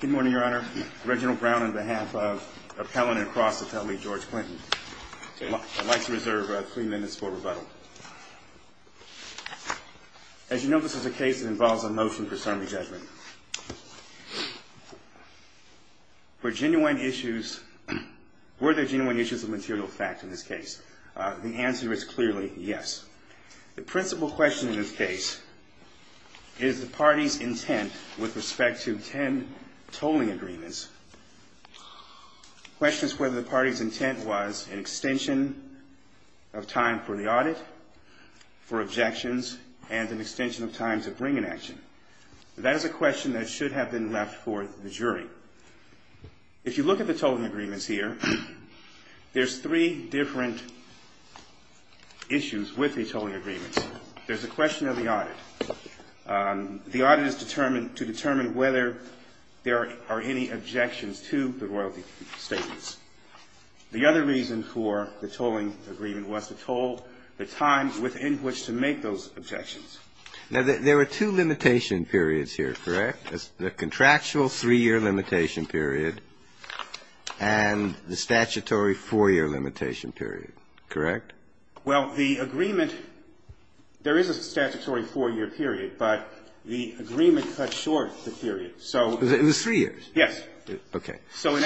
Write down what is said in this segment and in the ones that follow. Good morning, Your Honor. Reginald Brown on behalf of Appellant and Cross Attorney George Clinton. I'd like to reserve three minutes for rebuttal. As you know, this is a case that involves a motion for summary judgment. Were there genuine issues of material fact in this case? The answer is clearly yes. The principal question in this case is the party's intent with respect to ten tolling agreements. The question is whether the party's intent was an extension of time for the audit, for objections, and an extension of time to bring an action. That is a question that should have been left for the jury. However, if you look at the tolling agreements here, there's three different issues with the tolling agreements. There's the question of the audit. The audit is to determine whether there are any objections to the royalty statements. The other reason for the tolling agreement was to toll the time within which to make those objections. Now, there are two limitation periods here, correct? The contractual three-year limitation period and the statutory four-year limitation period. Correct? Well, the agreement, there is a statutory four-year period, but the agreement cut short the period. So it was three years? Yes. Okay. So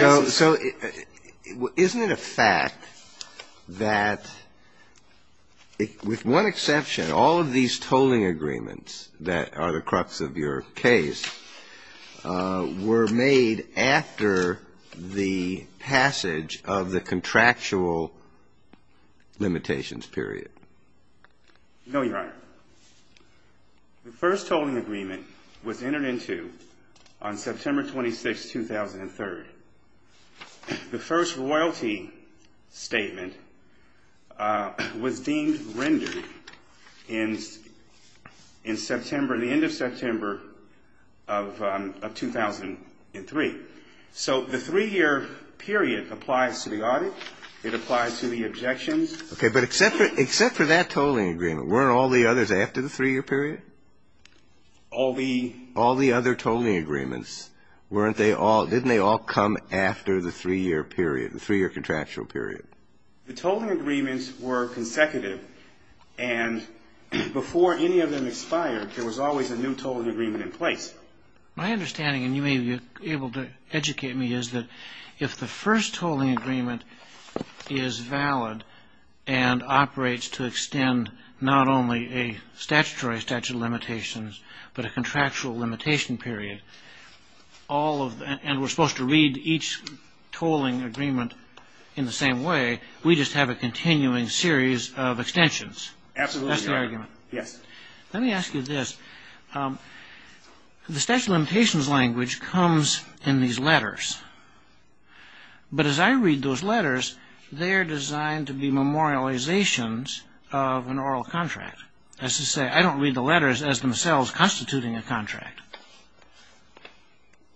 isn't it a fact that with one exception, all of these tolling agreements that are the crux of your case were made after the passage of the contractual limitations period? No, Your Honor. The first tolling agreement was entered into on September 26, 2003. The first royalty statement was deemed rendered in September, the end of September of 2003. So the three-year period applies to the audit. It applies to the objections. Okay. But except for that tolling agreement, weren't all the others after the three-year period? All the other tolling agreements, weren't they all, didn't they all come after the three-year period, the three-year contractual period? The tolling agreements were consecutive, and before any of them expired, there was always a new tolling agreement in place. My understanding, and you may be able to educate me, is that if the first tolling agreement is valid and operates to extend not only a statutory statute of limitations, but a contractual limitation period, and we're supposed to read each tolling agreement in the same way, we just have a continuing series of extensions. Absolutely, Your Honor. That's the argument? Yes. Let me ask you this. The statute of limitations language comes in these letters. But as I read those letters, they're designed to be memorializations of an oral contract. That is to say, I don't read the letters as themselves constituting a contract.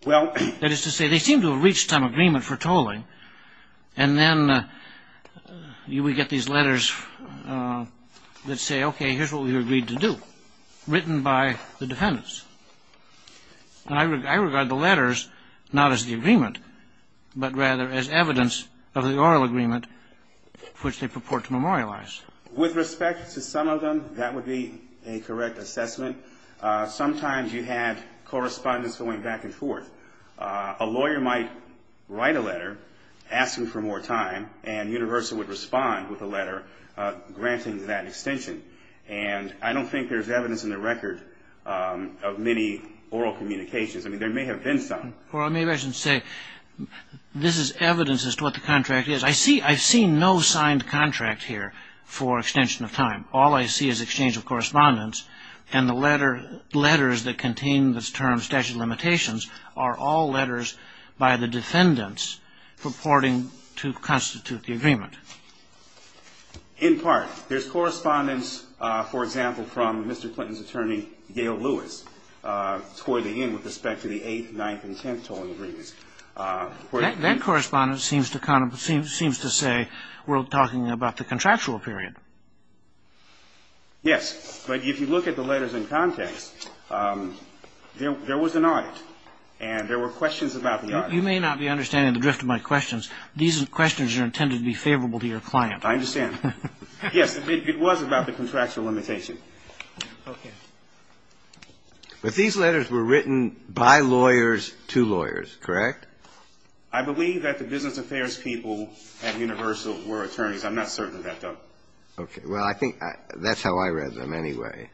That is to say, they seem to have reached some agreement for tolling, and then we get these letters that say, okay, here's what we agreed to do, written by the defendants. And I regard the letters not as the agreement, but rather as evidence of the oral agreement for which they purport to memorialize. With respect to some of them, that would be a correct assessment. Sometimes you had correspondence going back and forth. A lawyer might write a letter asking for more time, and Universal would respond with a letter granting that extension. And I don't think there's evidence in the record of many oral communications. I mean, there may have been some. Well, maybe I should say this is evidence as to what the contract is. I see no signed contract here for extension of time. All I see is exchange of correspondence, and the letters that contain the term statute of limitations are all letters by the defendants purporting to constitute the agreement. In part. There's correspondence, for example, from Mr. Clinton's attorney, Gail Lewis, toiling in with respect to the 8th, 9th, and 10th tolling agreements. That correspondence seems to say we're talking about the contractual period. Yes. But if you look at the letters in context, there was an audit, and there were questions about the audit. You may not be understanding the drift of my questions. These questions are intended to be favorable to your client. I understand. Yes, it was about the contractual limitation. Okay. But these letters were written by lawyers to lawyers, correct? I believe that the business affairs people at Universal were attorneys. I'm not certain of that, though. Okay. Well, I think that's how I read them anyway.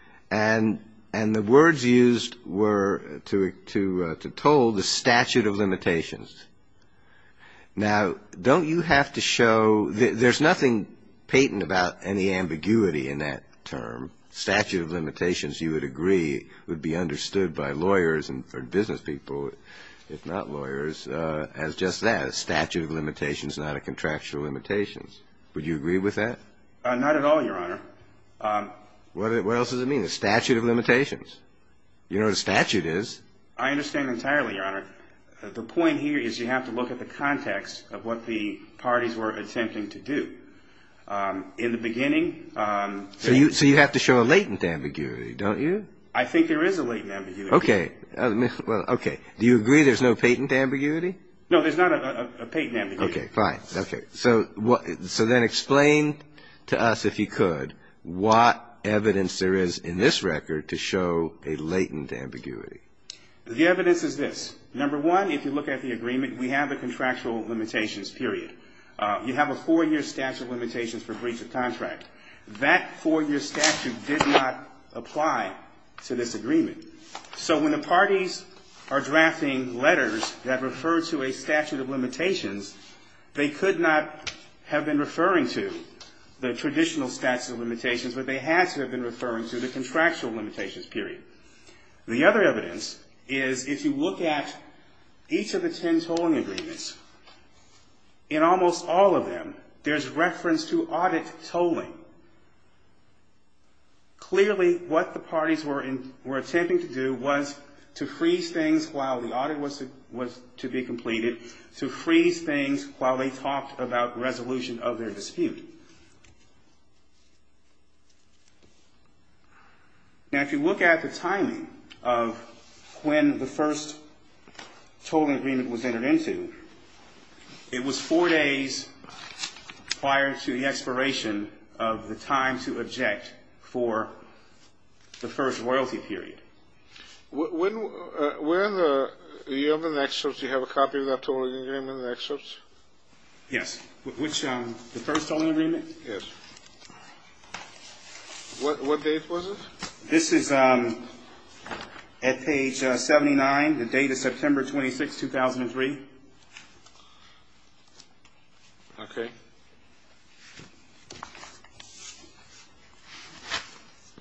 Now, don't you have to show that there's nothing patent about any ambiguity in that term? Statute of limitations, you would agree, would be understood by lawyers and for business people, if not lawyers, as just that, a statute of limitations, not a contractual limitation. Would you agree with that? Not at all, Your Honor. What else does it mean, a statute of limitations? I understand entirely, Your Honor. The point here is you have to look at the context of what the parties were attempting to do. In the beginning they So you have to show a latent ambiguity, don't you? I think there is a latent ambiguity. Okay. Well, okay. Do you agree there's no patent ambiguity? No, there's not a patent ambiguity. Okay, fine. Okay. So then explain to us, if you could, what evidence there is in this record to show a latent ambiguity. The evidence is this. Number one, if you look at the agreement, we have a contractual limitations period. You have a four-year statute of limitations for breach of contract. That four-year statute did not apply to this agreement. So when the parties are drafting letters that refer to a statute of limitations, they could not have been referring to the traditional statute of limitations, but they had to have been referring to the contractual limitations period. The other evidence is if you look at each of the ten tolling agreements, in almost all of them there's reference to audit tolling. Clearly what the parties were attempting to do was to freeze things while the audit was to be completed, to freeze things while they talked about resolution of their dispute. Now, if you look at the timing of when the first tolling agreement was entered into, it was four days prior to the expiration of the time to object for the first royalty period. When the other excerpts, do you have a copy of that tolling agreement in the excerpts? Yes. The first tolling agreement? Yes. What date was it? This is at page 79, the date of September 26, 2003. Okay.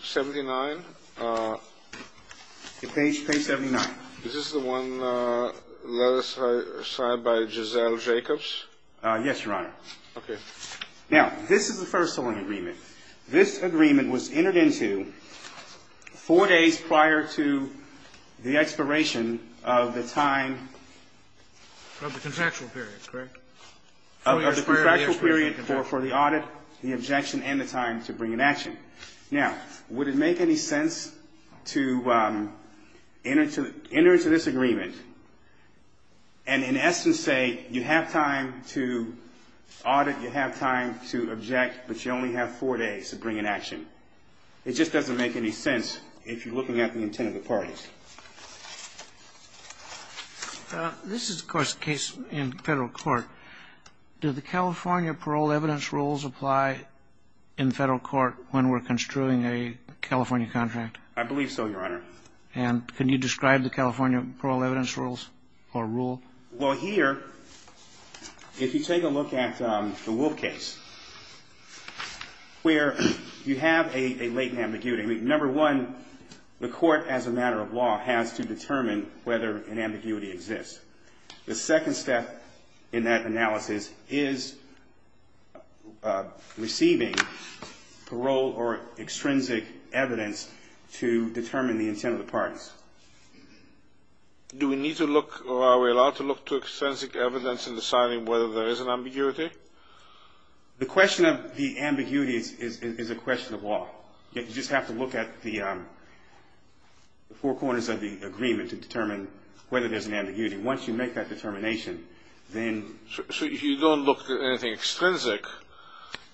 79? Page 79. Is this the one let aside by Giselle Jacobs? Yes, Your Honor. Okay. Now, this is the first tolling agreement. This agreement was entered into four days prior to the expiration of the time. Of the contractual period, correct? Of the contractual period for the audit, the objection, and the time to bring an action. Okay. Now, would it make any sense to enter into this agreement and in essence say you have time to audit, you have time to object, but you only have four days to bring an action? It just doesn't make any sense if you're looking at the intent of the parties. This is, of course, a case in federal court. Do the California parole evidence rules apply in federal court when we're construing a California contract? I believe so, Your Honor. And can you describe the California parole evidence rules or rule? Well, here, if you take a look at the Wolfe case, where you have a latent ambiguity. Number one, the court as a matter of law has to determine whether an ambiguity exists. The second step in that analysis is receiving parole or extrinsic evidence to determine the intent of the parties. Do we need to look or are we allowed to look to extrinsic evidence in deciding whether there is an ambiguity? The question of the ambiguity is a question of law. You just have to look at the four corners of the agreement to determine whether there's an ambiguity. Once you make that determination, then... So you don't look at anything extrinsic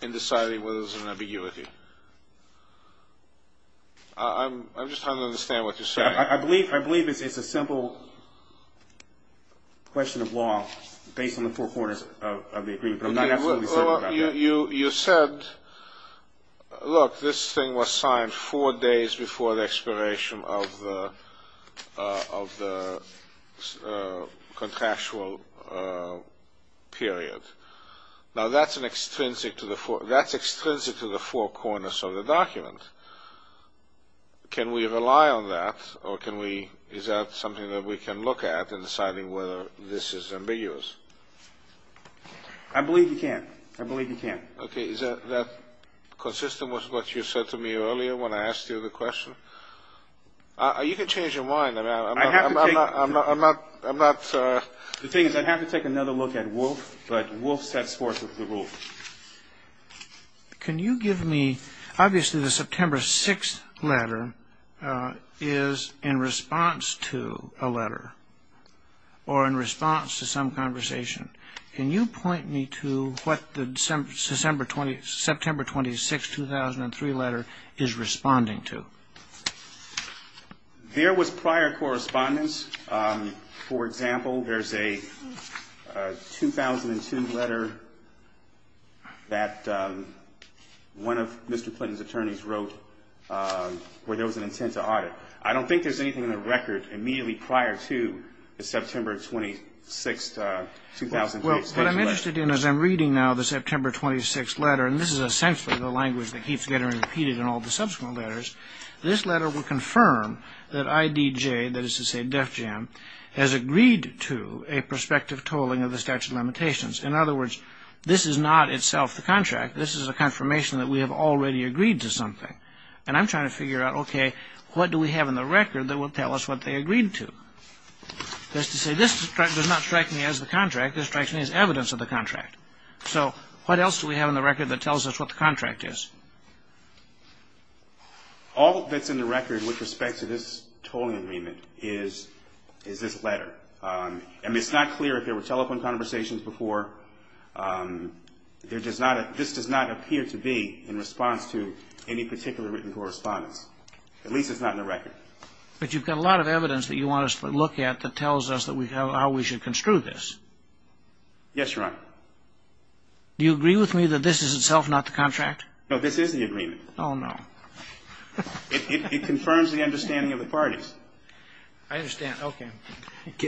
in deciding whether there's an ambiguity? I'm just trying to understand what you're saying. I believe it's a simple question of law based on the four corners of the agreement, but I'm not absolutely certain about that. You said, look, this thing was signed four days before the expiration of the contractual period. Now, that's extrinsic to the four corners of the document. Can we rely on that or is that something that we can look at in deciding whether this is ambiguous? I believe you can. Okay, is that consistent with what you said to me earlier when I asked you the question? You can change your mind. I'm not... The thing is, I'd have to take another look at Wolf, but Wolf sets forth with the rule. Can you give me... Obviously, the September 6th letter is in response to a letter or in response to some conversation. Can you point me to what the September 26, 2003 letter is responding to? There was prior correspondence. For example, there's a 2002 letter that one of Mr. Clinton's attorneys wrote where there was an intent to audit. I don't think there's anything in the record immediately prior to the September 26, 2003 statement. Well, what I'm interested in is I'm reading now the September 26 letter, and this is essentially the language that keeps getting repeated in all the subsequent letters. This letter will confirm that IDJ, that is to say Def Jam, has agreed to a prospective tolling of the statute of limitations. In other words, this is not itself the contract. This is a confirmation that we have already agreed to something. And I'm trying to figure out, okay, what do we have in the record that will tell us what they agreed to? That is to say, this does not strike me as the contract. This strikes me as evidence of the contract. So what else do we have in the record that tells us what the contract is? All that's in the record with respect to this tolling agreement is this letter. I mean, it's not clear if there were telephone conversations before. This does not appear to be in response to any particular written correspondence. At least it's not in the record. But you've got a lot of evidence that you want us to look at that tells us how we should construe this. Yes, Your Honor. Do you agree with me that this is itself not the contract? No, this is the agreement. Oh, no. It confirms the understanding of the parties. I understand. Okay.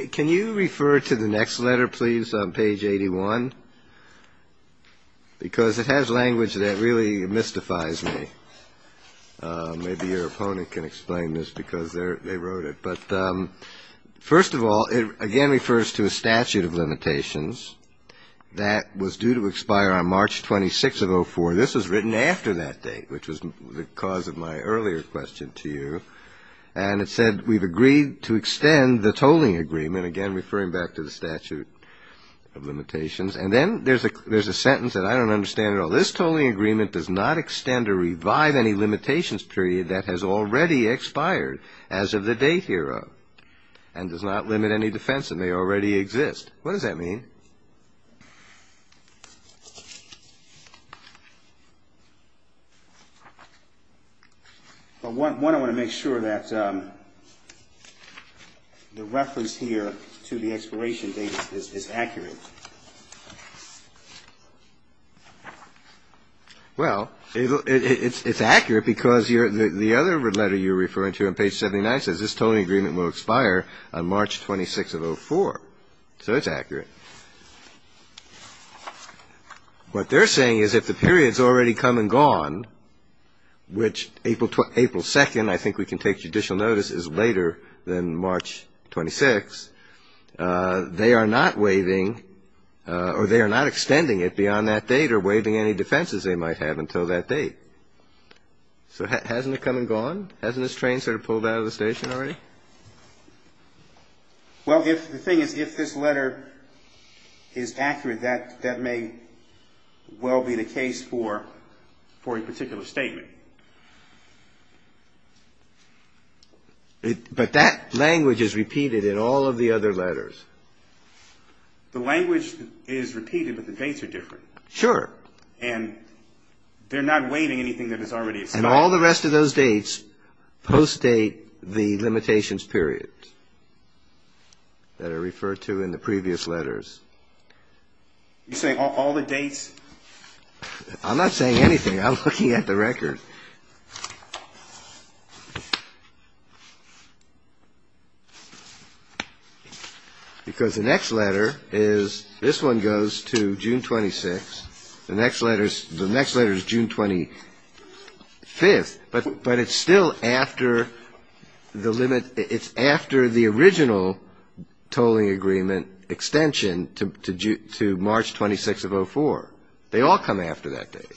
Can you refer to the next letter, please, on page 81? Because it has language that really mystifies me. Maybe your opponent can explain this because they wrote it. But first of all, it again refers to a statute of limitations. That was due to expire on March 26th of 04. This was written after that date, which was the cause of my earlier question to you. And it said we've agreed to extend the tolling agreement, again referring back to the statute of limitations. And then there's a sentence that I don't understand at all. This tolling agreement does not extend or revive any limitations period that has already expired as of the date hereof and does not limit any defense that may already exist. What does that mean? Well, one, I want to make sure that the reference here to the expiration date is accurate. Well, it's accurate because the other letter you're referring to on page 79 says this tolling agreement will expire on March 26th of 04. So it's accurate. What they're saying is if the period's already come and gone, which April 2nd, I think we can take judicial notice, is later than March 26th, they are not waiving or they are not extending it beyond that date or waiving any defenses they might have until that date. So hasn't it come and gone? Hasn't this train sort of pulled out of the station already? Well, the thing is, if this letter is accurate, that may well be the case for a particular statement. But that language is repeated in all of the other letters. The language is repeated, but the dates are different. Sure. And they're not waiving anything that has already expired. And all the rest of those dates postdate the limitations period that are referred to in the previous letters. You're saying all the dates? I'm not saying anything. I'm looking at the record. Because the next letter is, this one goes to June 26th. The next letter is June 25th. But it's still after the limit. It's after the original tolling agreement extension to March 26th of 04. They all come after that date.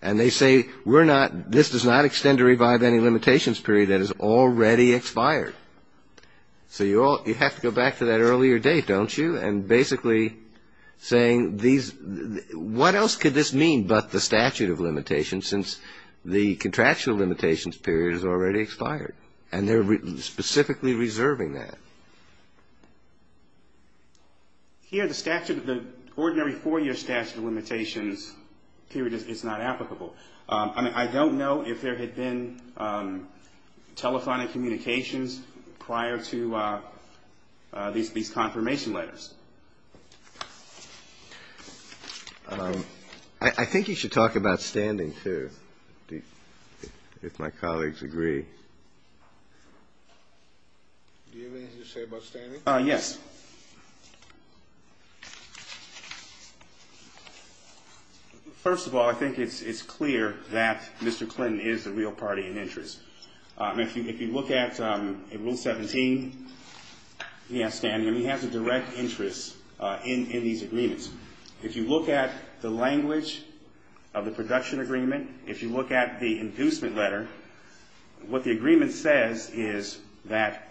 And they say we're not, this does not extend to revive any limitations period that has already expired. So you have to go back to that earlier date, don't you? And basically saying these, what else could this mean but the statute of limitations since the contractual limitations period has already expired? And they're specifically reserving that. Here the statute, the ordinary four-year statute of limitations period is not applicable. I don't know if there had been telephonic communications prior to these confirmation letters. I think you should talk about standing, too, if my colleagues agree. Do you have anything to say about standing? Yes. First of all, I think it's clear that Mr. Clinton is the real party in interest. If you look at Rule 17, he has standing. He has a direct interest in these agreements. If you look at the language of the production agreement, if you look at the inducement letter, what the agreement says is that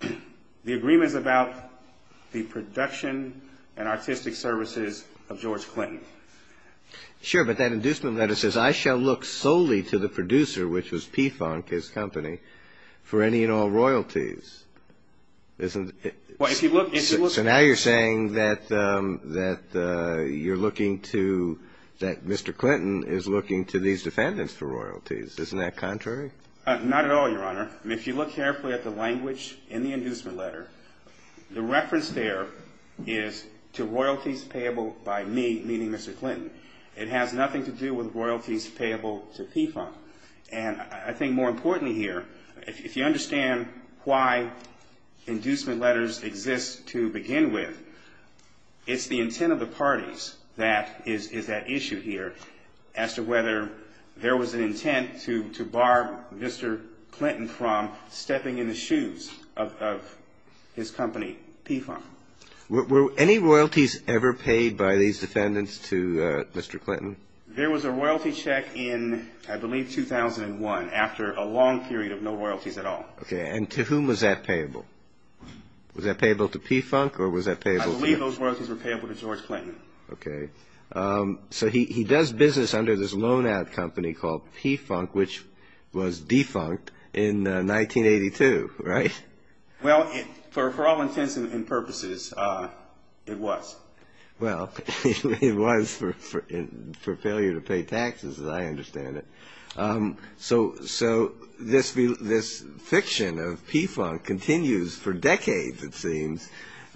the agreement is about the production and artistic services of George Clinton. Sure, but that inducement letter says, I shall look solely to the producer, which was Pfunk, his company, for any and all royalties. So now you're saying that you're looking to, that Mr. Clinton is looking to these defendants for royalties. Isn't that contrary? Not at all, Your Honor. If you look carefully at the language in the inducement letter, the reference there is to royalties payable by me, meaning Mr. Clinton. It has nothing to do with royalties payable to Pfunk. And I think more importantly here, if you understand why inducement letters exist to begin with, it's the intent of the parties that is at issue here as to whether there was an intent to bar Mr. Clinton from stepping in the shoes of his company, Pfunk. Were any royalties ever paid by these defendants to Mr. Clinton? There was a royalty check in, I believe, 2001, after a long period of no royalties at all. Okay, and to whom was that payable? Was that payable to Pfunk, or was that payable to? I believe those royalties were payable to George Clinton. Okay. So he does business under this loan ad company called Pfunk, which was defunct in 1982, right? Well, for all intents and purposes, it was. Well, it was for failure to pay taxes, as I understand it. So this fiction of Pfunk continues for decades, it seems,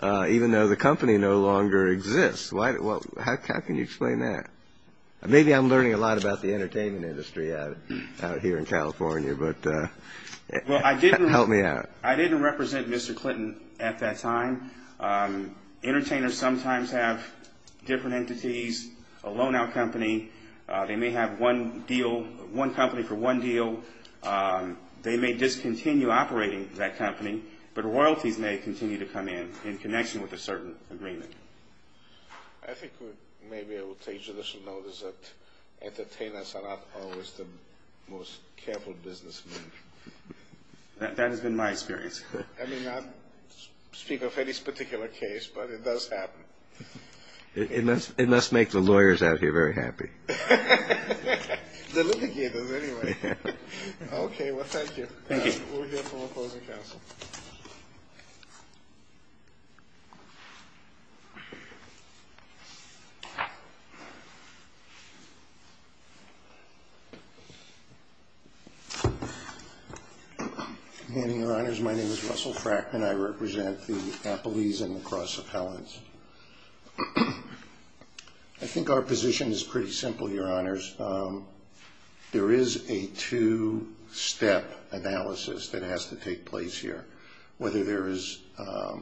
even though the company no longer exists. How can you explain that? Maybe I'm learning a lot about the entertainment industry out here in California, but help me out. I didn't represent Mr. Clinton at that time. Entertainers sometimes have different entities, a loan out company. They may have one deal, one company for one deal. They may discontinue operating that company, but royalties may continue to come in, in connection with a certain agreement. I think we may be able to take judicial notice that entertainers are not always the most careful businessmen. That has been my experience. I may not speak of Eddie's particular case, but it does happen. It must make the lawyers out here very happy. The litigators, anyway. Okay. Well, thank you. Thank you. We'll hear from opposing counsel. Your Honors, my name is Russell Frackman. I represent the Appellees and the Cross Appellants. I think our position is pretty simple, Your Honors. There is a two-step analysis that has to take place here. Whether there is a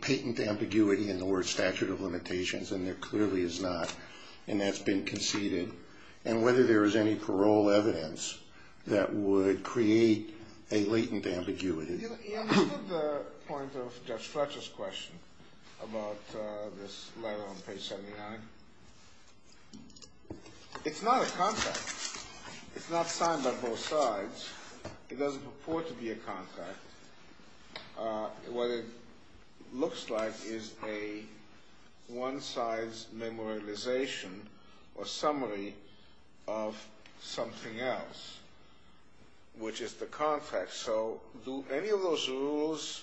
patent ambiguity in the word statute of limitations, and there clearly is not, and that's been conceded. And whether there is any parole evidence that would create a latent ambiguity. You know, to the point of Judge Fletcher's question about this letter on page 79, it's not a contract. It's not signed by both sides. It doesn't purport to be a contract. What it looks like is a one-size memorialization or summary of something else, which is the contract. So do any of those rules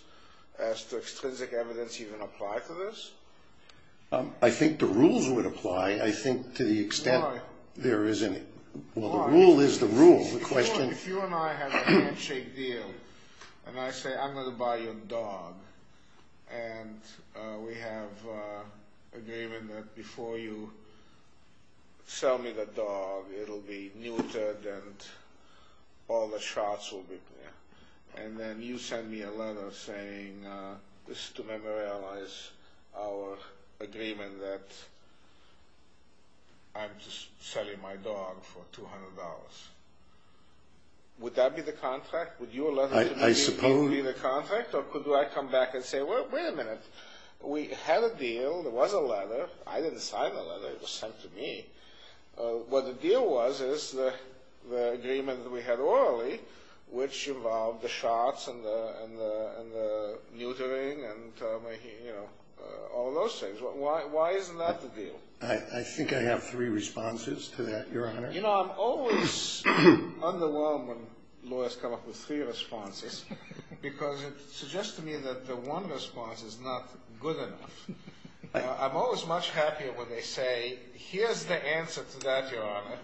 as to extrinsic evidence even apply to this? I think the rules would apply. I think to the extent there is any. Why? Well, the rule is the rule. If you and I have a handshake deal, and I say, I'm going to buy your dog, and we have an agreement that before you sell me the dog, it will be neutered and all the shots will be clear. And then you send me a letter saying this is to memorialize our agreement that I'm just selling my dog for $200. Would that be the contract? I suppose. Would you allow that to be the contract? Or could I come back and say, well, wait a minute. We had a deal. There was a letter. I didn't sign the letter. It was sent to me. What the deal was is the agreement that we had orally, which involved the shots and the neutering and, you know, all those things. Why isn't that the deal? I think I have three responses to that, Your Honor. You know, I'm always underwhelmed when lawyers come up with three responses because it suggests to me that the one response is not good enough. I'm always much happier when they say, here's the answer to that, Your Honor,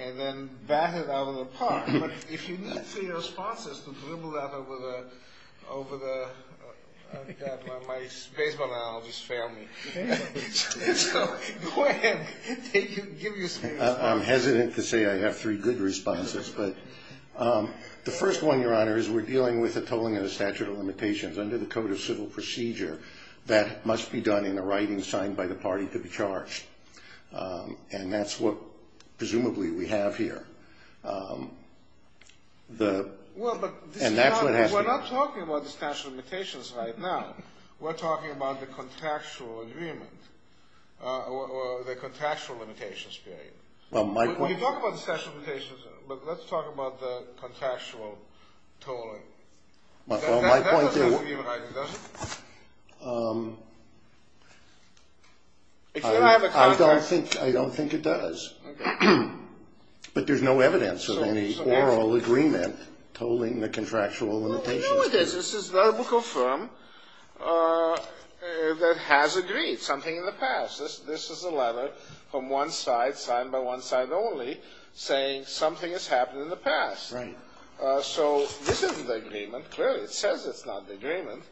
and then bat it out of the park. But if you need three responses to dribble that over my baseball analogy's family. So go ahead. Give your speech. I'm hesitant to say I have three good responses. The first one, Your Honor, is we're dealing with a tolling of the statute of limitations under the Code of Civil Procedure that must be done in a writing signed by the party to be charged. And that's what presumably we have here. Well, but we're not talking about the statute of limitations right now. We're talking about the contractual agreement or the contractual limitations period. Well, you talk about the statute of limitations, but let's talk about the contractual tolling. That doesn't give an idea, does it? I don't think it does. But there's no evidence of any oral agreement tolling the contractual limitations period. Well, here it is. This is the book of firm that has agreed something in the past. This is a letter from one side, signed by one side only, saying something has happened in the past. Right. So this isn't the agreement. Clearly it says it's not the agreement.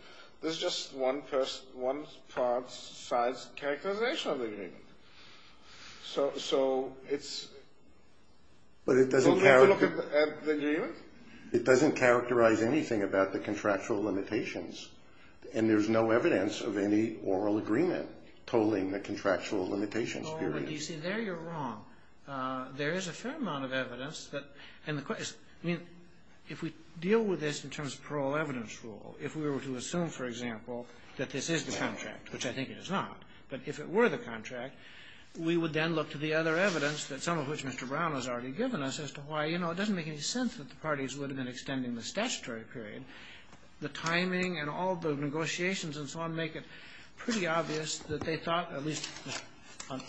This is just one side's characterization of the agreement. So it's don't have to look at the agreement. It doesn't characterize anything about the contractual limitations. And there's no evidence of any oral agreement tolling the contractual limitations period. Oh, but you see, there you're wrong. There is a fair amount of evidence. I mean, if we deal with this in terms of parole evidence rule, if we were to assume, for example, that this is the contract, which I think it is not, but if it were the contract, we would then look to the other evidence, some of which Mr. Brown has already given us, as to why, you know, it doesn't make any sense that the parties would have been extending the statutory period. The timing and all the negotiations and so on make it pretty obvious that they thought, at least on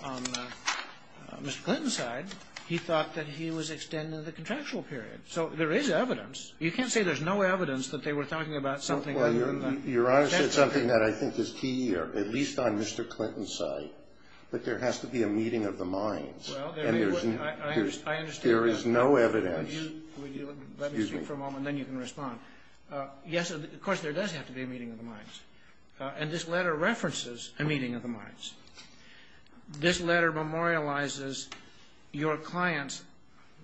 Mr. Clinton's side, he thought that he was extending the contractual period. So there is evidence. You can't say there's no evidence that they were talking about something other than the contractual period. Well, Your Honor, it's something that I think is key here, at least on Mr. Clinton's side, that there has to be a meeting of the minds. Well, I understand that. There is no evidence. Let me speak for a moment, then you can respond. Yes, of course, there does have to be a meeting of the minds. And this letter references a meeting of the minds. This letter memorializes your client's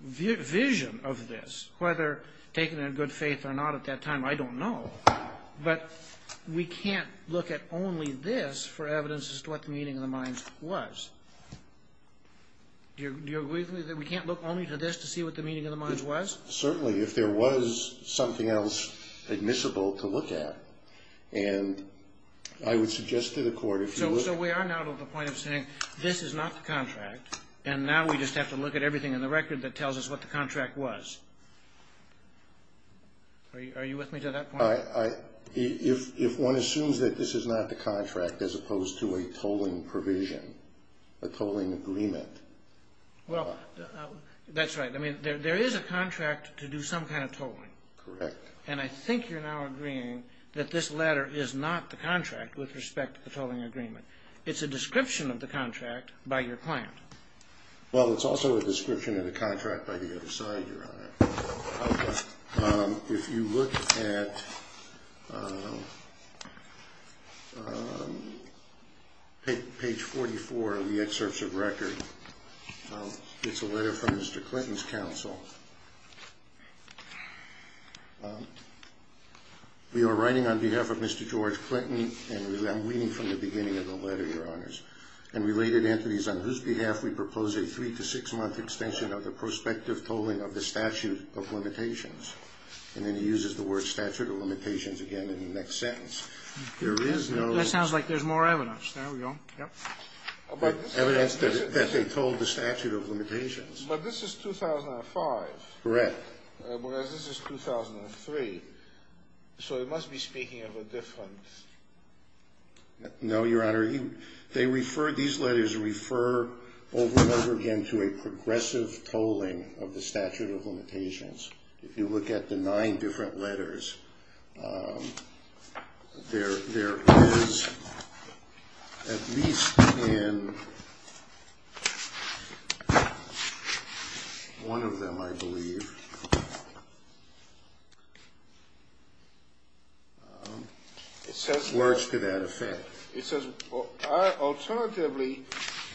vision of this, whether taken in good faith or not at that time, I don't know. But we can't look at only this for evidence as to what the meeting of the minds was. Do you agree with me that we can't look only to this to see what the meeting of the minds was? Certainly, if there was something else admissible to look at. And I would suggest to the Court if you look at it. So we are now to the point of saying, this is not the contract. And now we just have to look at everything in the record that tells us what the contract was. Are you with me to that point? If one assumes that this is not the contract as opposed to a tolling provision, a tolling agreement. Well, that's right. I mean, there is a contract to do some kind of tolling. Correct. And I think you're now agreeing that this letter is not the contract with respect to the tolling agreement. It's a description of the contract by your client. Well, it's also a description of the contract by the other side, Your Honor. If you look at page 44 of the excerpts of record, it's a letter from Mr. Clinton's counsel. We are writing on behalf of Mr. George Clinton. And I'm reading from the beginning of the letter, Your Honors. And related entities on whose behalf we propose a three to six month extension of the prospective tolling of the statute of limitations. And then he uses the word statute of limitations again in the next sentence. That sounds like there's more evidence. There we go. Evidence that they told the statute of limitations. But this is 2005. Correct. Whereas this is 2003. So it must be speaking of a different. No, Your Honor. They refer, these letters refer over and over again to a progressive tolling of the statute of limitations. If you look at the nine different letters, there is at least in one of them, I believe. Words to that effect. It says, alternatively,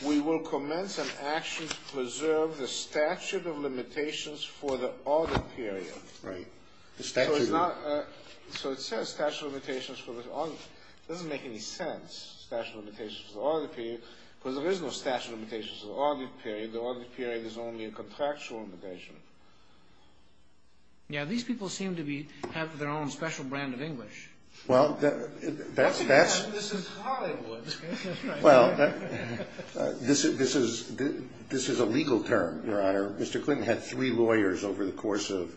we will commence an action to preserve the statute of limitations for the audit period. Right. So it says statute of limitations for the audit period. It doesn't make any sense, statute of limitations for the audit period. Because there is no statute of limitations for the audit period. The audit period is only a contractual limitation. Yeah, these people seem to have their own special brand of English. Well, that's. This is Hollywood. Well, this is a legal term, Your Honor. Mr. Clinton had three lawyers over the course of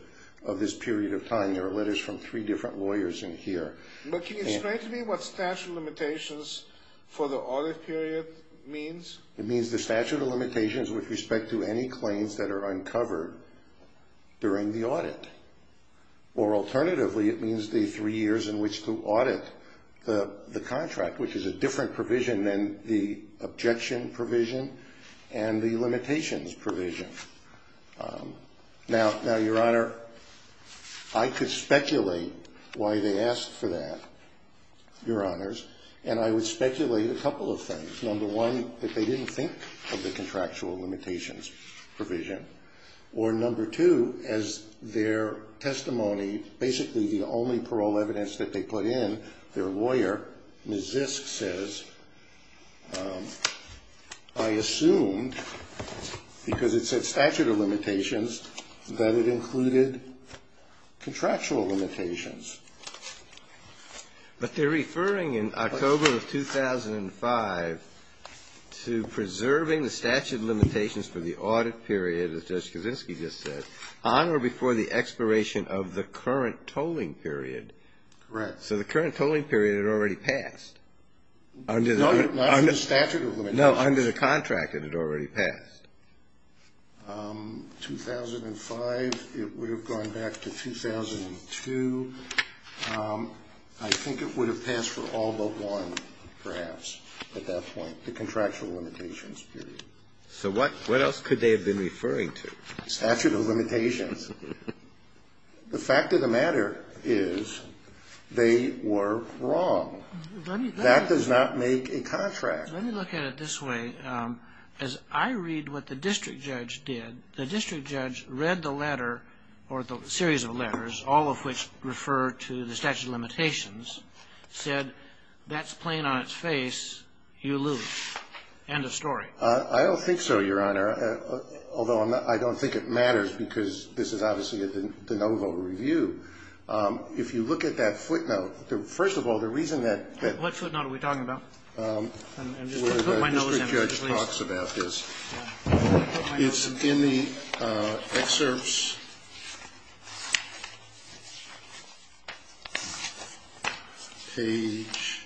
this period of time. There are letters from three different lawyers in here. But can you explain to me what statute of limitations for the audit period means? It means the statute of limitations with respect to any claims that are uncovered during the audit. Or alternatively, it means the three years in which to audit the contract, which is a different provision than the objection provision and the limitations provision. Now, Your Honor, I could speculate why they asked for that, Your Honors. And I would speculate a couple of things. Number one, that they didn't think of the contractual limitations provision. Or number two, as their testimony, basically the only parole evidence that they put in, their lawyer, Ms. Zisk, says, I assumed, because it said statute of limitations, that it included contractual limitations. But they're referring in October of 2005 to preserving the statute of limitations for the audit period, as Judge Kaczynski just said, on or before the expiration of the current tolling period. Correct. So the current tolling period had already passed. Not under statute of limitations. No, under the contract it had already passed. 2005, it would have gone back to 2002. I think it would have passed for all but one, perhaps, at that point, the contractual limitations period. So what else could they have been referring to? Statute of limitations. The fact of the matter is they were wrong. That does not make a contract. Let me look at it this way. As I read what the district judge did, the district judge read the letter, or the series of letters, all of which refer to the statute of limitations, said, that's plain on its face. You lose. End of story. I don't think so, Your Honor. Although I don't think it matters, because this is obviously the no vote review. If you look at that footnote, first of all, the reason that What footnote are we talking about? Where the district judge talks about this. It's in the excerpts. Page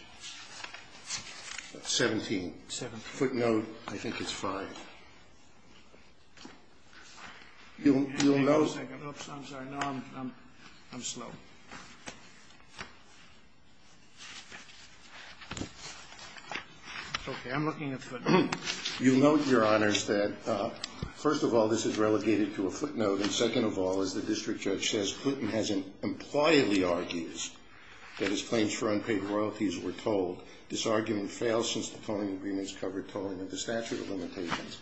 17. Footnote, I think it's 5. You'll note. I'm sorry. I'm slow. Okay. I'm looking at footnotes. You'll note, Your Honors, that first of all, this is relegated to a footnote, and second of all, as the district judge says, Putin has impliedly argued that his claims for unpaid royalties were told. This argument fails since the tolling agreements covered tolling of the statute of limitations.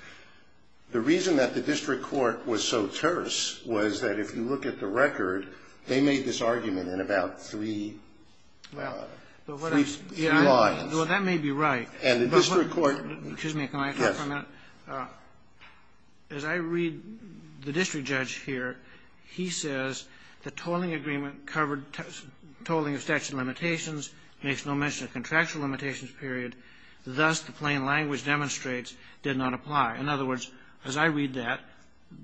The reason that the district court was so terse was that if you look at the record, they made this argument in about three lines. Well, that may be right. And the district court Excuse me. Can I talk for a minute? Yes. As I read the district judge here, he says the tolling agreement covered tolling of statute of limitations, makes no mention of contractual limitations period, thus the plain language demonstrates did not apply. In other words, as I read that,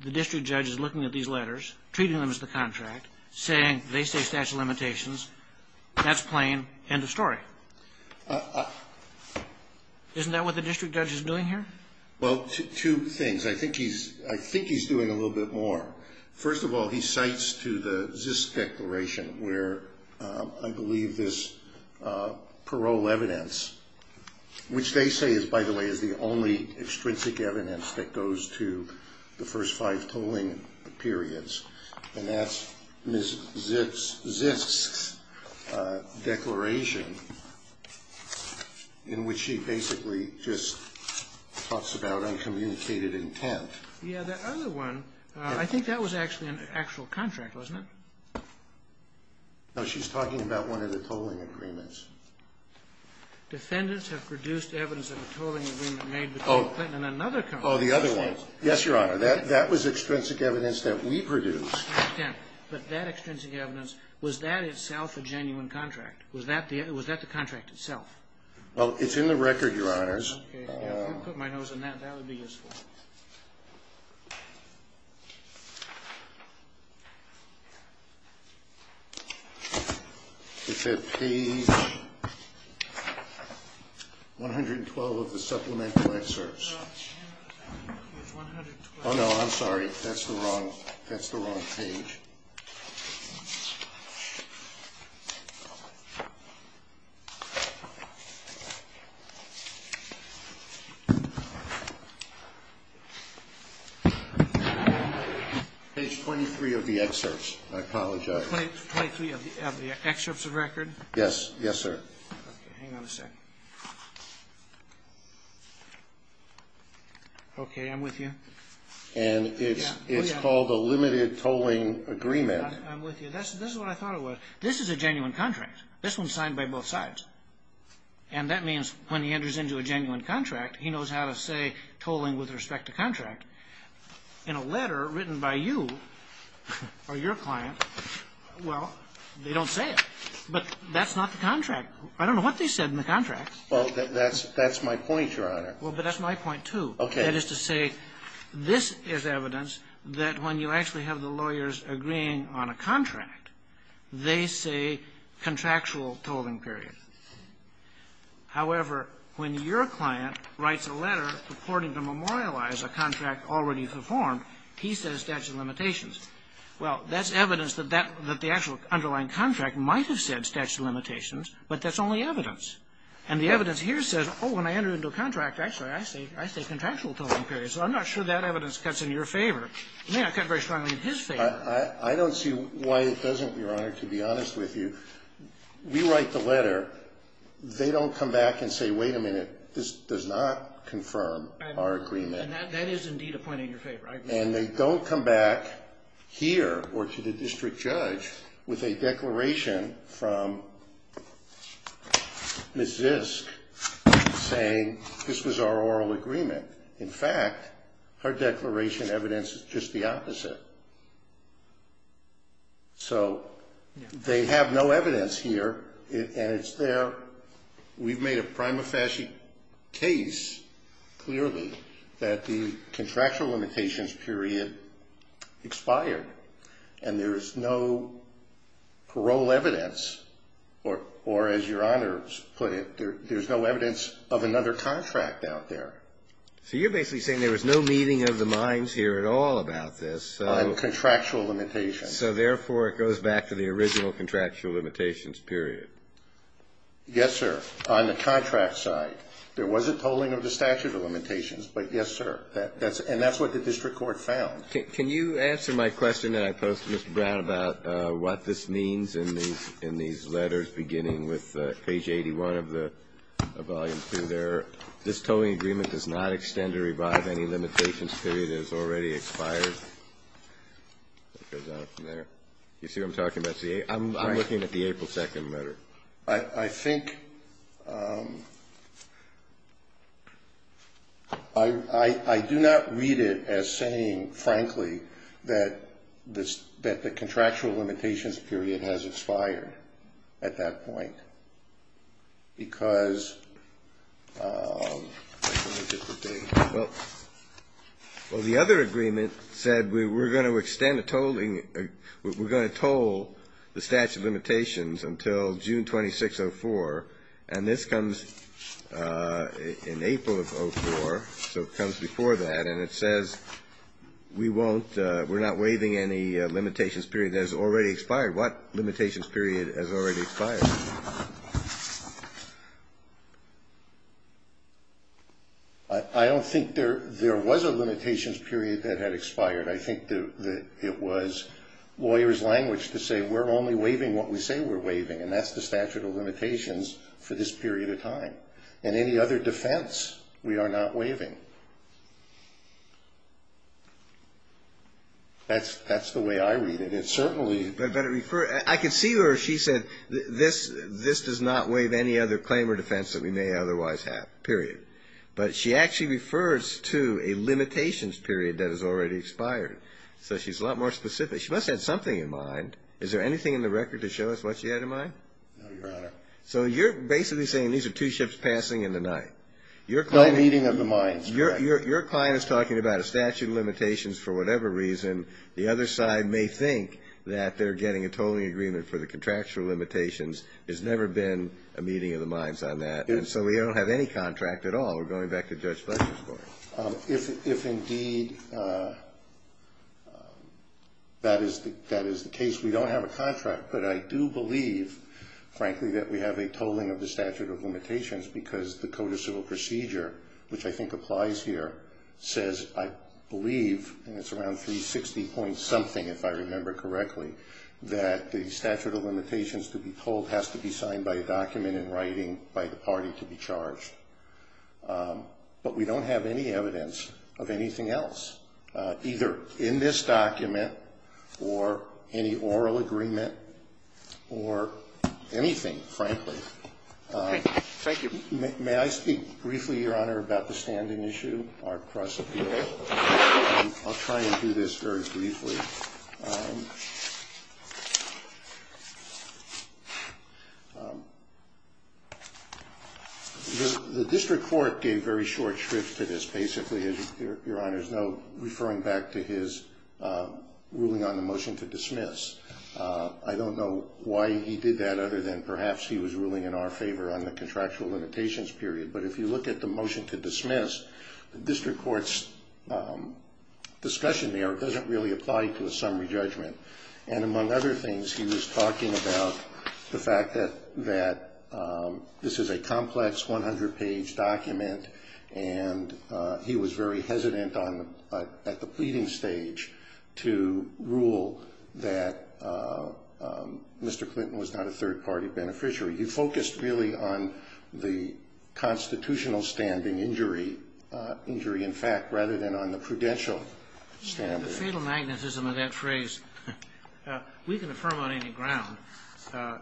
the district judge is looking at these letters, treating them as the contract, saying they say statute of limitations. That's plain. End of story. Isn't that what the district judge is doing here? Well, two things. I think he's doing a little bit more. First of all, he cites to the Zist Declaration where I believe this parole evidence, which they say is, by the way, is the only extrinsic evidence that goes to the first five tolling periods. And that's Ms. Zist's declaration in which she basically just talks about uncommunicated intent. Yeah, that other one, I think that was actually an actual contract, wasn't it? No, she's talking about one of the tolling agreements. Defendants have produced evidence of a tolling agreement made between Clinton and another country. Oh, the other one. Yes, Your Honor. That was extrinsic evidence that we produced. But that extrinsic evidence, was that itself a genuine contract? Was that the contract itself? Well, it's in the record, Your Honors. Okay. I'll put my nose in that. That would be useful. Page 112 of the supplemental excerpts. Oh, no, I'm sorry. That's the wrong page. Page 23 of the excerpts. I apologize. Page 23 of the excerpts of record? Yes. Yes, sir. Okay. Hang on a second. Okay. And it's called a limited tolling agreement. Yes, Your Honor. I'm with you. This is what I thought it was. This is a genuine contract. This one's signed by both sides. And that means when he enters into a genuine contract, he knows how to say tolling with respect to contract. In a letter written by you or your client, well, they don't say it. But that's not the contract. I don't know what they said in the contract. Well, that's my point, Your Honor. Well, but that's my point, too. Okay. That is to say, this is evidence that when you actually have the lawyers agreeing on a contract, they say contractual tolling period. However, when your client writes a letter purporting to memorialize a contract already performed, he says statute of limitations. Well, that's evidence that the actual underlying contract might have said statute of limitations, but that's only evidence. And the evidence here says, oh, when I enter into a contract, actually, I say contractual tolling period. So I'm not sure that evidence cuts in your favor. It may not cut very strongly in his favor. I don't see why it doesn't, Your Honor, to be honest with you. We write the letter. They don't come back and say, wait a minute, this does not confirm our agreement. And that is indeed a point in your favor. And they don't come back here or to the district judge with a declaration from Ms. Zisk saying this was our oral agreement. In fact, her declaration evidences just the opposite. So they have no evidence here, and it's there. However, we've made a prima facie case clearly that the contractual limitations period expired. And there is no parole evidence, or as Your Honor put it, there's no evidence of another contract out there. So you're basically saying there was no meeting of the minds here at all about this. On contractual limitations. So, therefore, it goes back to the original contractual limitations period. Yes, sir. On the contract side, there was a tolling of the statute of limitations, but yes, sir. And that's what the district court found. Can you answer my question that I posed to Mr. Brown about what this means in these letters beginning with page 81 of the volume 2 there? This tolling agreement does not extend or revive any limitations period. It has already expired. It goes on from there. You see what I'm talking about? I'm looking at the April 2nd letter. I think ‑‑ I do not read it as saying, frankly, that the contractual limitations period has expired at that point. Well, the other agreement said we're going to extend a tolling ‑‑ we're going to toll the statute of limitations until June 26, 2004. And this comes in April of 2004, so it comes before that. And it says we won't ‑‑ we're not waiving any limitations period that has already expired. I'm sorry, what limitations period has already expired? I don't think there was a limitations period that had expired. I think that it was lawyers' language to say we're only waiving what we say we're waiving, and that's the statute of limitations for this period of time. In any other defense, we are not waiving. That's the way I read it. Certainly. I can see where she said this does not waive any other claim or defense that we may otherwise have, period. But she actually refers to a limitations period that has already expired. So she's a lot more specific. She must have had something in mind. Is there anything in the record to show us what she had in mind? No, Your Honor. So you're basically saying these are two ships passing in the night. No meeting of the minds, correct. Your client is talking about a statute of limitations for whatever reason. The other side may think that they're getting a tolling agreement for the contractual limitations. There's never been a meeting of the minds on that. And so we don't have any contract at all. We're going back to Judge Fletcher's court. If indeed that is the case, we don't have a contract. But I do believe, frankly, that we have a tolling of the statute of limitations because the Code of Civil Procedure, which I think applies here, says, I believe, and it's around 360 point something if I remember correctly, that the statute of limitations to be tolled has to be signed by a document in writing by the party to be charged. But we don't have any evidence of anything else. Either in this document or any oral agreement or anything, frankly. Thank you. May I speak briefly, Your Honor, about the standing issue, our cross-appeal? I'll try and do this very briefly. The district court gave very short scripts to this, basically, as Your Honor's know, referring back to his ruling on the motion to dismiss. I don't know why he did that other than perhaps he was ruling in our favor on the contractual limitations period. But if you look at the motion to dismiss, the district court's discussion there doesn't really apply to a summary judgment. And among other things, he was talking about the fact that this is a complex 100-page document, and he was very hesitant at the pleading stage to rule that Mr. Clinton was not a third-party beneficiary. You focused really on the constitutional standing injury, in fact, rather than on the prudential standing. The fatal magnetism of that phrase, we can affirm on any ground.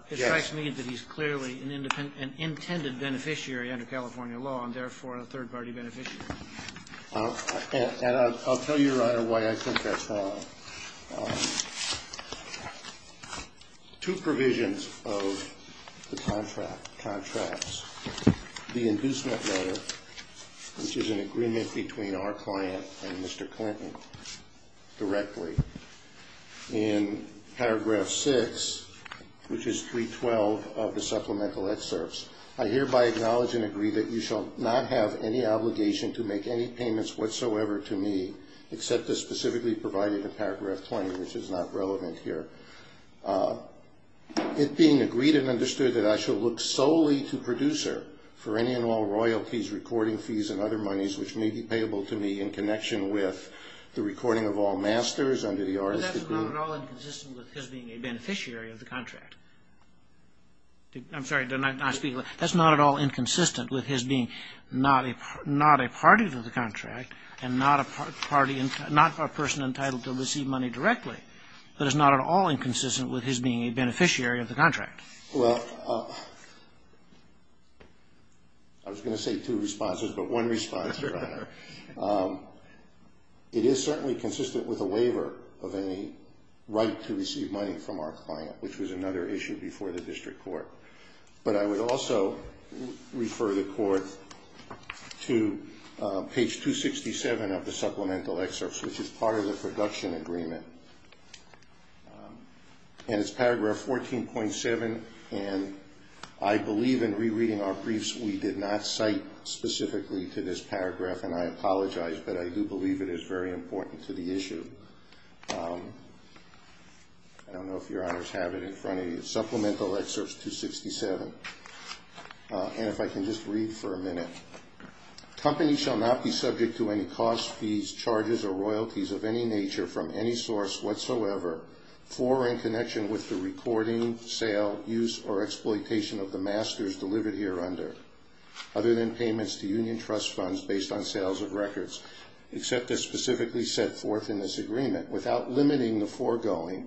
It strikes me that he's clearly an intended beneficiary under California law and, therefore, a third-party beneficiary. And I'll tell you, Your Honor, why I think that's wrong. Two provisions of the contracts. The inducement letter, which is an agreement between our client and Mr. Clinton directly. In paragraph 6, which is 312 of the supplemental excerpts, I hereby acknowledge and agree that you shall not have any obligation to make any payments whatsoever to me, except as specifically provided in paragraph 20, which is not relevant here. It being agreed and understood that I shall look solely to producer for any and all royalties, recording fees, and other monies which may be payable to me in connection with the recording of all masters under the artist's degree. But that's not at all inconsistent with his being a beneficiary of the contract. I'm sorry. That's not at all inconsistent with his being not a party to the contract and not a person entitled to receive money directly. That is not at all inconsistent with his being a beneficiary of the contract. Well, I was going to say two responses, but one response, Your Honor. It is certainly consistent with a waiver of any right to receive money from our client, which was another issue before the district court. But I would also refer the court to page 267 of the supplemental excerpts, which is part of the production agreement. And it's paragraph 14.7, and I believe in rereading our briefs, we did not cite specifically to this paragraph. And I apologize, but I do believe it is very important to the issue. I don't know if Your Honors have it in front of you. Supplemental excerpts 267. And if I can just read for a minute. Company shall not be subject to any costs, fees, charges, or royalties of any nature from any source whatsoever for or in connection with the recording, sale, use, or exploitation of the masters delivered here under, other than payments to union trust funds based on sales of records, except as specifically set forth in this agreement, without limiting the foregoing,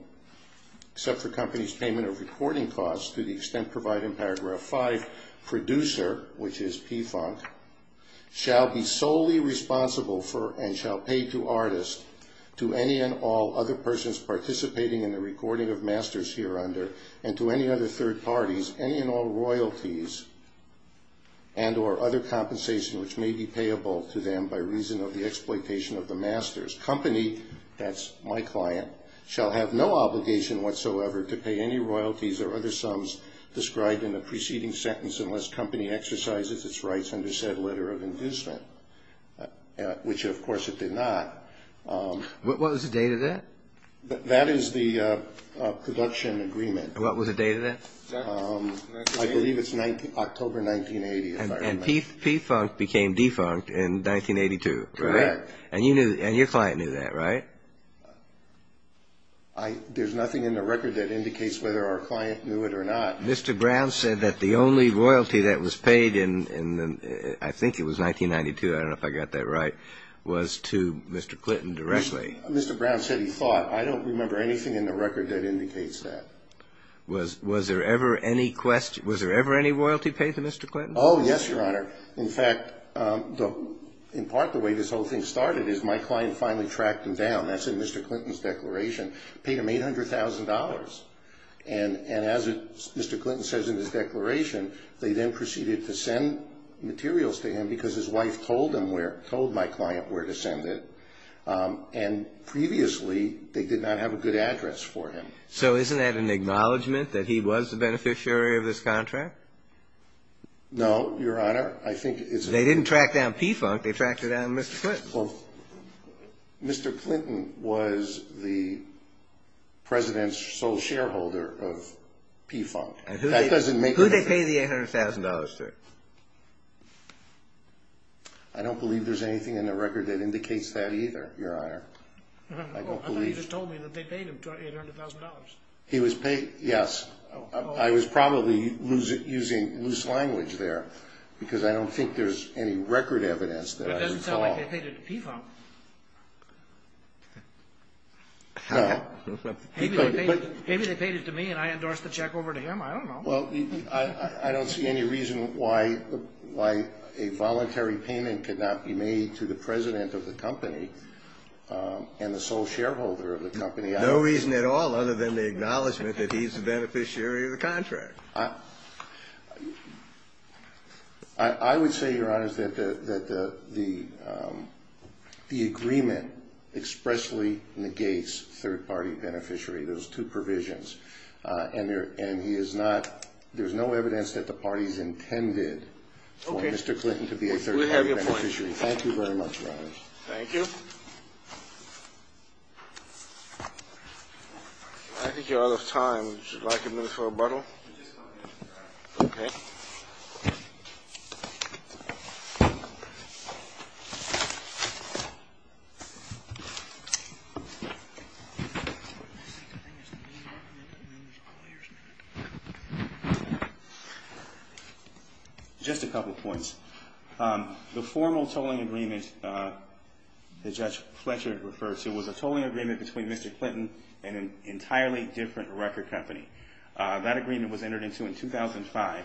except for company's payment of recording costs to the extent provided in paragraph 5, producer, which is PFUNC, shall be solely responsible for and shall pay to artists, to any and all other persons participating in the recording of masters here under, and to any other third parties, any and all royalties and or other compensation which may be payable to them by reason of the exploitation of the masters. Company, that's my client, shall have no obligation whatsoever to pay any royalties or other sums described in the preceding sentence unless company exercises its rights under said letter of inducement, which of course it did not. What was the date of that? That is the production agreement. What was the date of that? I believe it's October 1980, if I remember. And PFUNC became defunct in 1982, right? Correct. And your client knew that, right? There's nothing in the record that indicates whether our client knew it or not. Mr. Brown said that the only royalty that was paid in, I think it was 1992, I don't know if I got that right, was to Mr. Clinton directly. Mr. Brown said he thought. I don't remember anything in the record that indicates that. Was there ever any royalty paid to Mr. Clinton? Oh, yes, Your Honor. In fact, in part the way this whole thing started is my client finally tracked him down. That's in Mr. Clinton's declaration. Paid him $800,000. And as Mr. Clinton says in his declaration, they then proceeded to send materials to him because his wife told him where, told my client where to send it. And previously they did not have a good address for him. So isn't that an acknowledgment that he was the beneficiary of this contract? No, Your Honor. I think it's. They didn't track down PFUNC, they tracked down Mr. Clinton. Mr. Clinton was the President's sole shareholder of PFUNC. Who did they pay the $800,000 to? I don't believe there's anything in the record that indicates that either, Your Honor. I thought you just told me that they paid him $800,000. He was paid, yes. I was probably using loose language there because I don't think there's any record evidence that I recall. It's not like they paid it to PFUNC. Maybe they paid it to me and I endorsed the check over to him, I don't know. Well, I don't see any reason why a voluntary payment could not be made to the President of the company and the sole shareholder of the company. No reason at all other than the acknowledgment that he's the beneficiary of the contract. I would say, Your Honor, that the agreement expressly negates third-party beneficiary, those two provisions. And there's no evidence that the parties intended for Mr. Clinton to be a third-party beneficiary. Thank you very much, Your Honor. Thank you. I think you're out of time. Would you like a minute for rebuttal? Okay. Just a couple points. The formal tolling agreement that Judge Fletcher referred to was a tolling agreement between Mr. Clinton and an entirely different record company. That agreement was entered into in 2005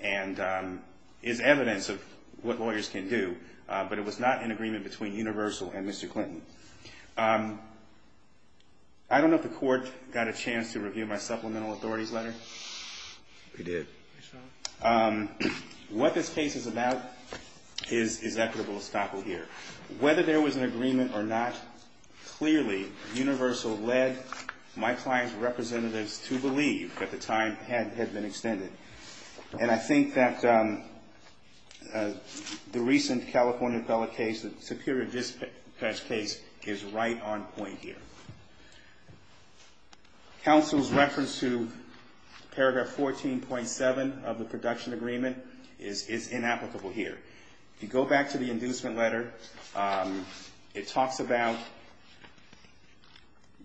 and is evidence of what lawyers can do, but it was not an agreement between Universal and Mr. Clinton. I don't know if the Court got a chance to review my supplemental authorities letter. We did. What this case is about is equitable estoppel here. Whether there was an agreement or not, clearly, Universal led my client's representatives to believe that the time had been extended. And I think that the recent California appellate case, the Superior Dispatch case, is right on point here. Counsel's reference to paragraph 14.7 of the production agreement is inapplicable here. If you go back to the inducement letter, it talks about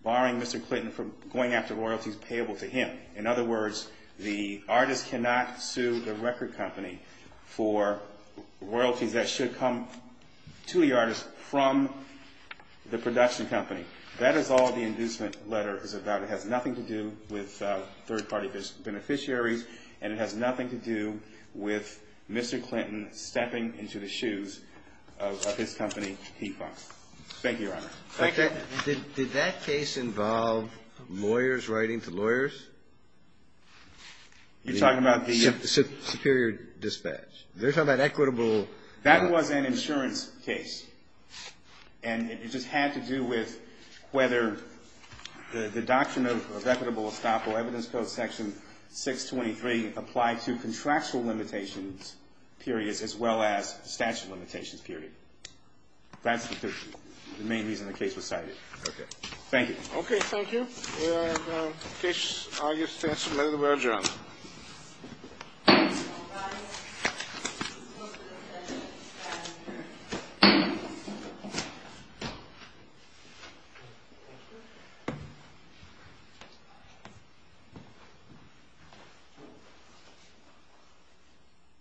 barring Mr. Clinton from going after royalties payable to him. In other words, the artist cannot sue the record company for royalties that should come to the artist from the production company. That is all the inducement letter is about. It has nothing to do with third-party beneficiaries, and it has nothing to do with Mr. Clinton stepping into the shoes of his company, T. Fox. Thank you, Your Honor. Thank you. Did that case involve lawyers writing to lawyers? You're talking about the… Superior Dispatch. They're talking about equitable… That was an insurance case, and it just had to do with whether the doctrine of equitable estoppel, evidence code section 623, applied to contractual limitations periods as well as statute of limitations period. That's the main reason the case was cited. Okay. Thank you. Okay. Thank you. Case argued. Thank you very much, Your Honor.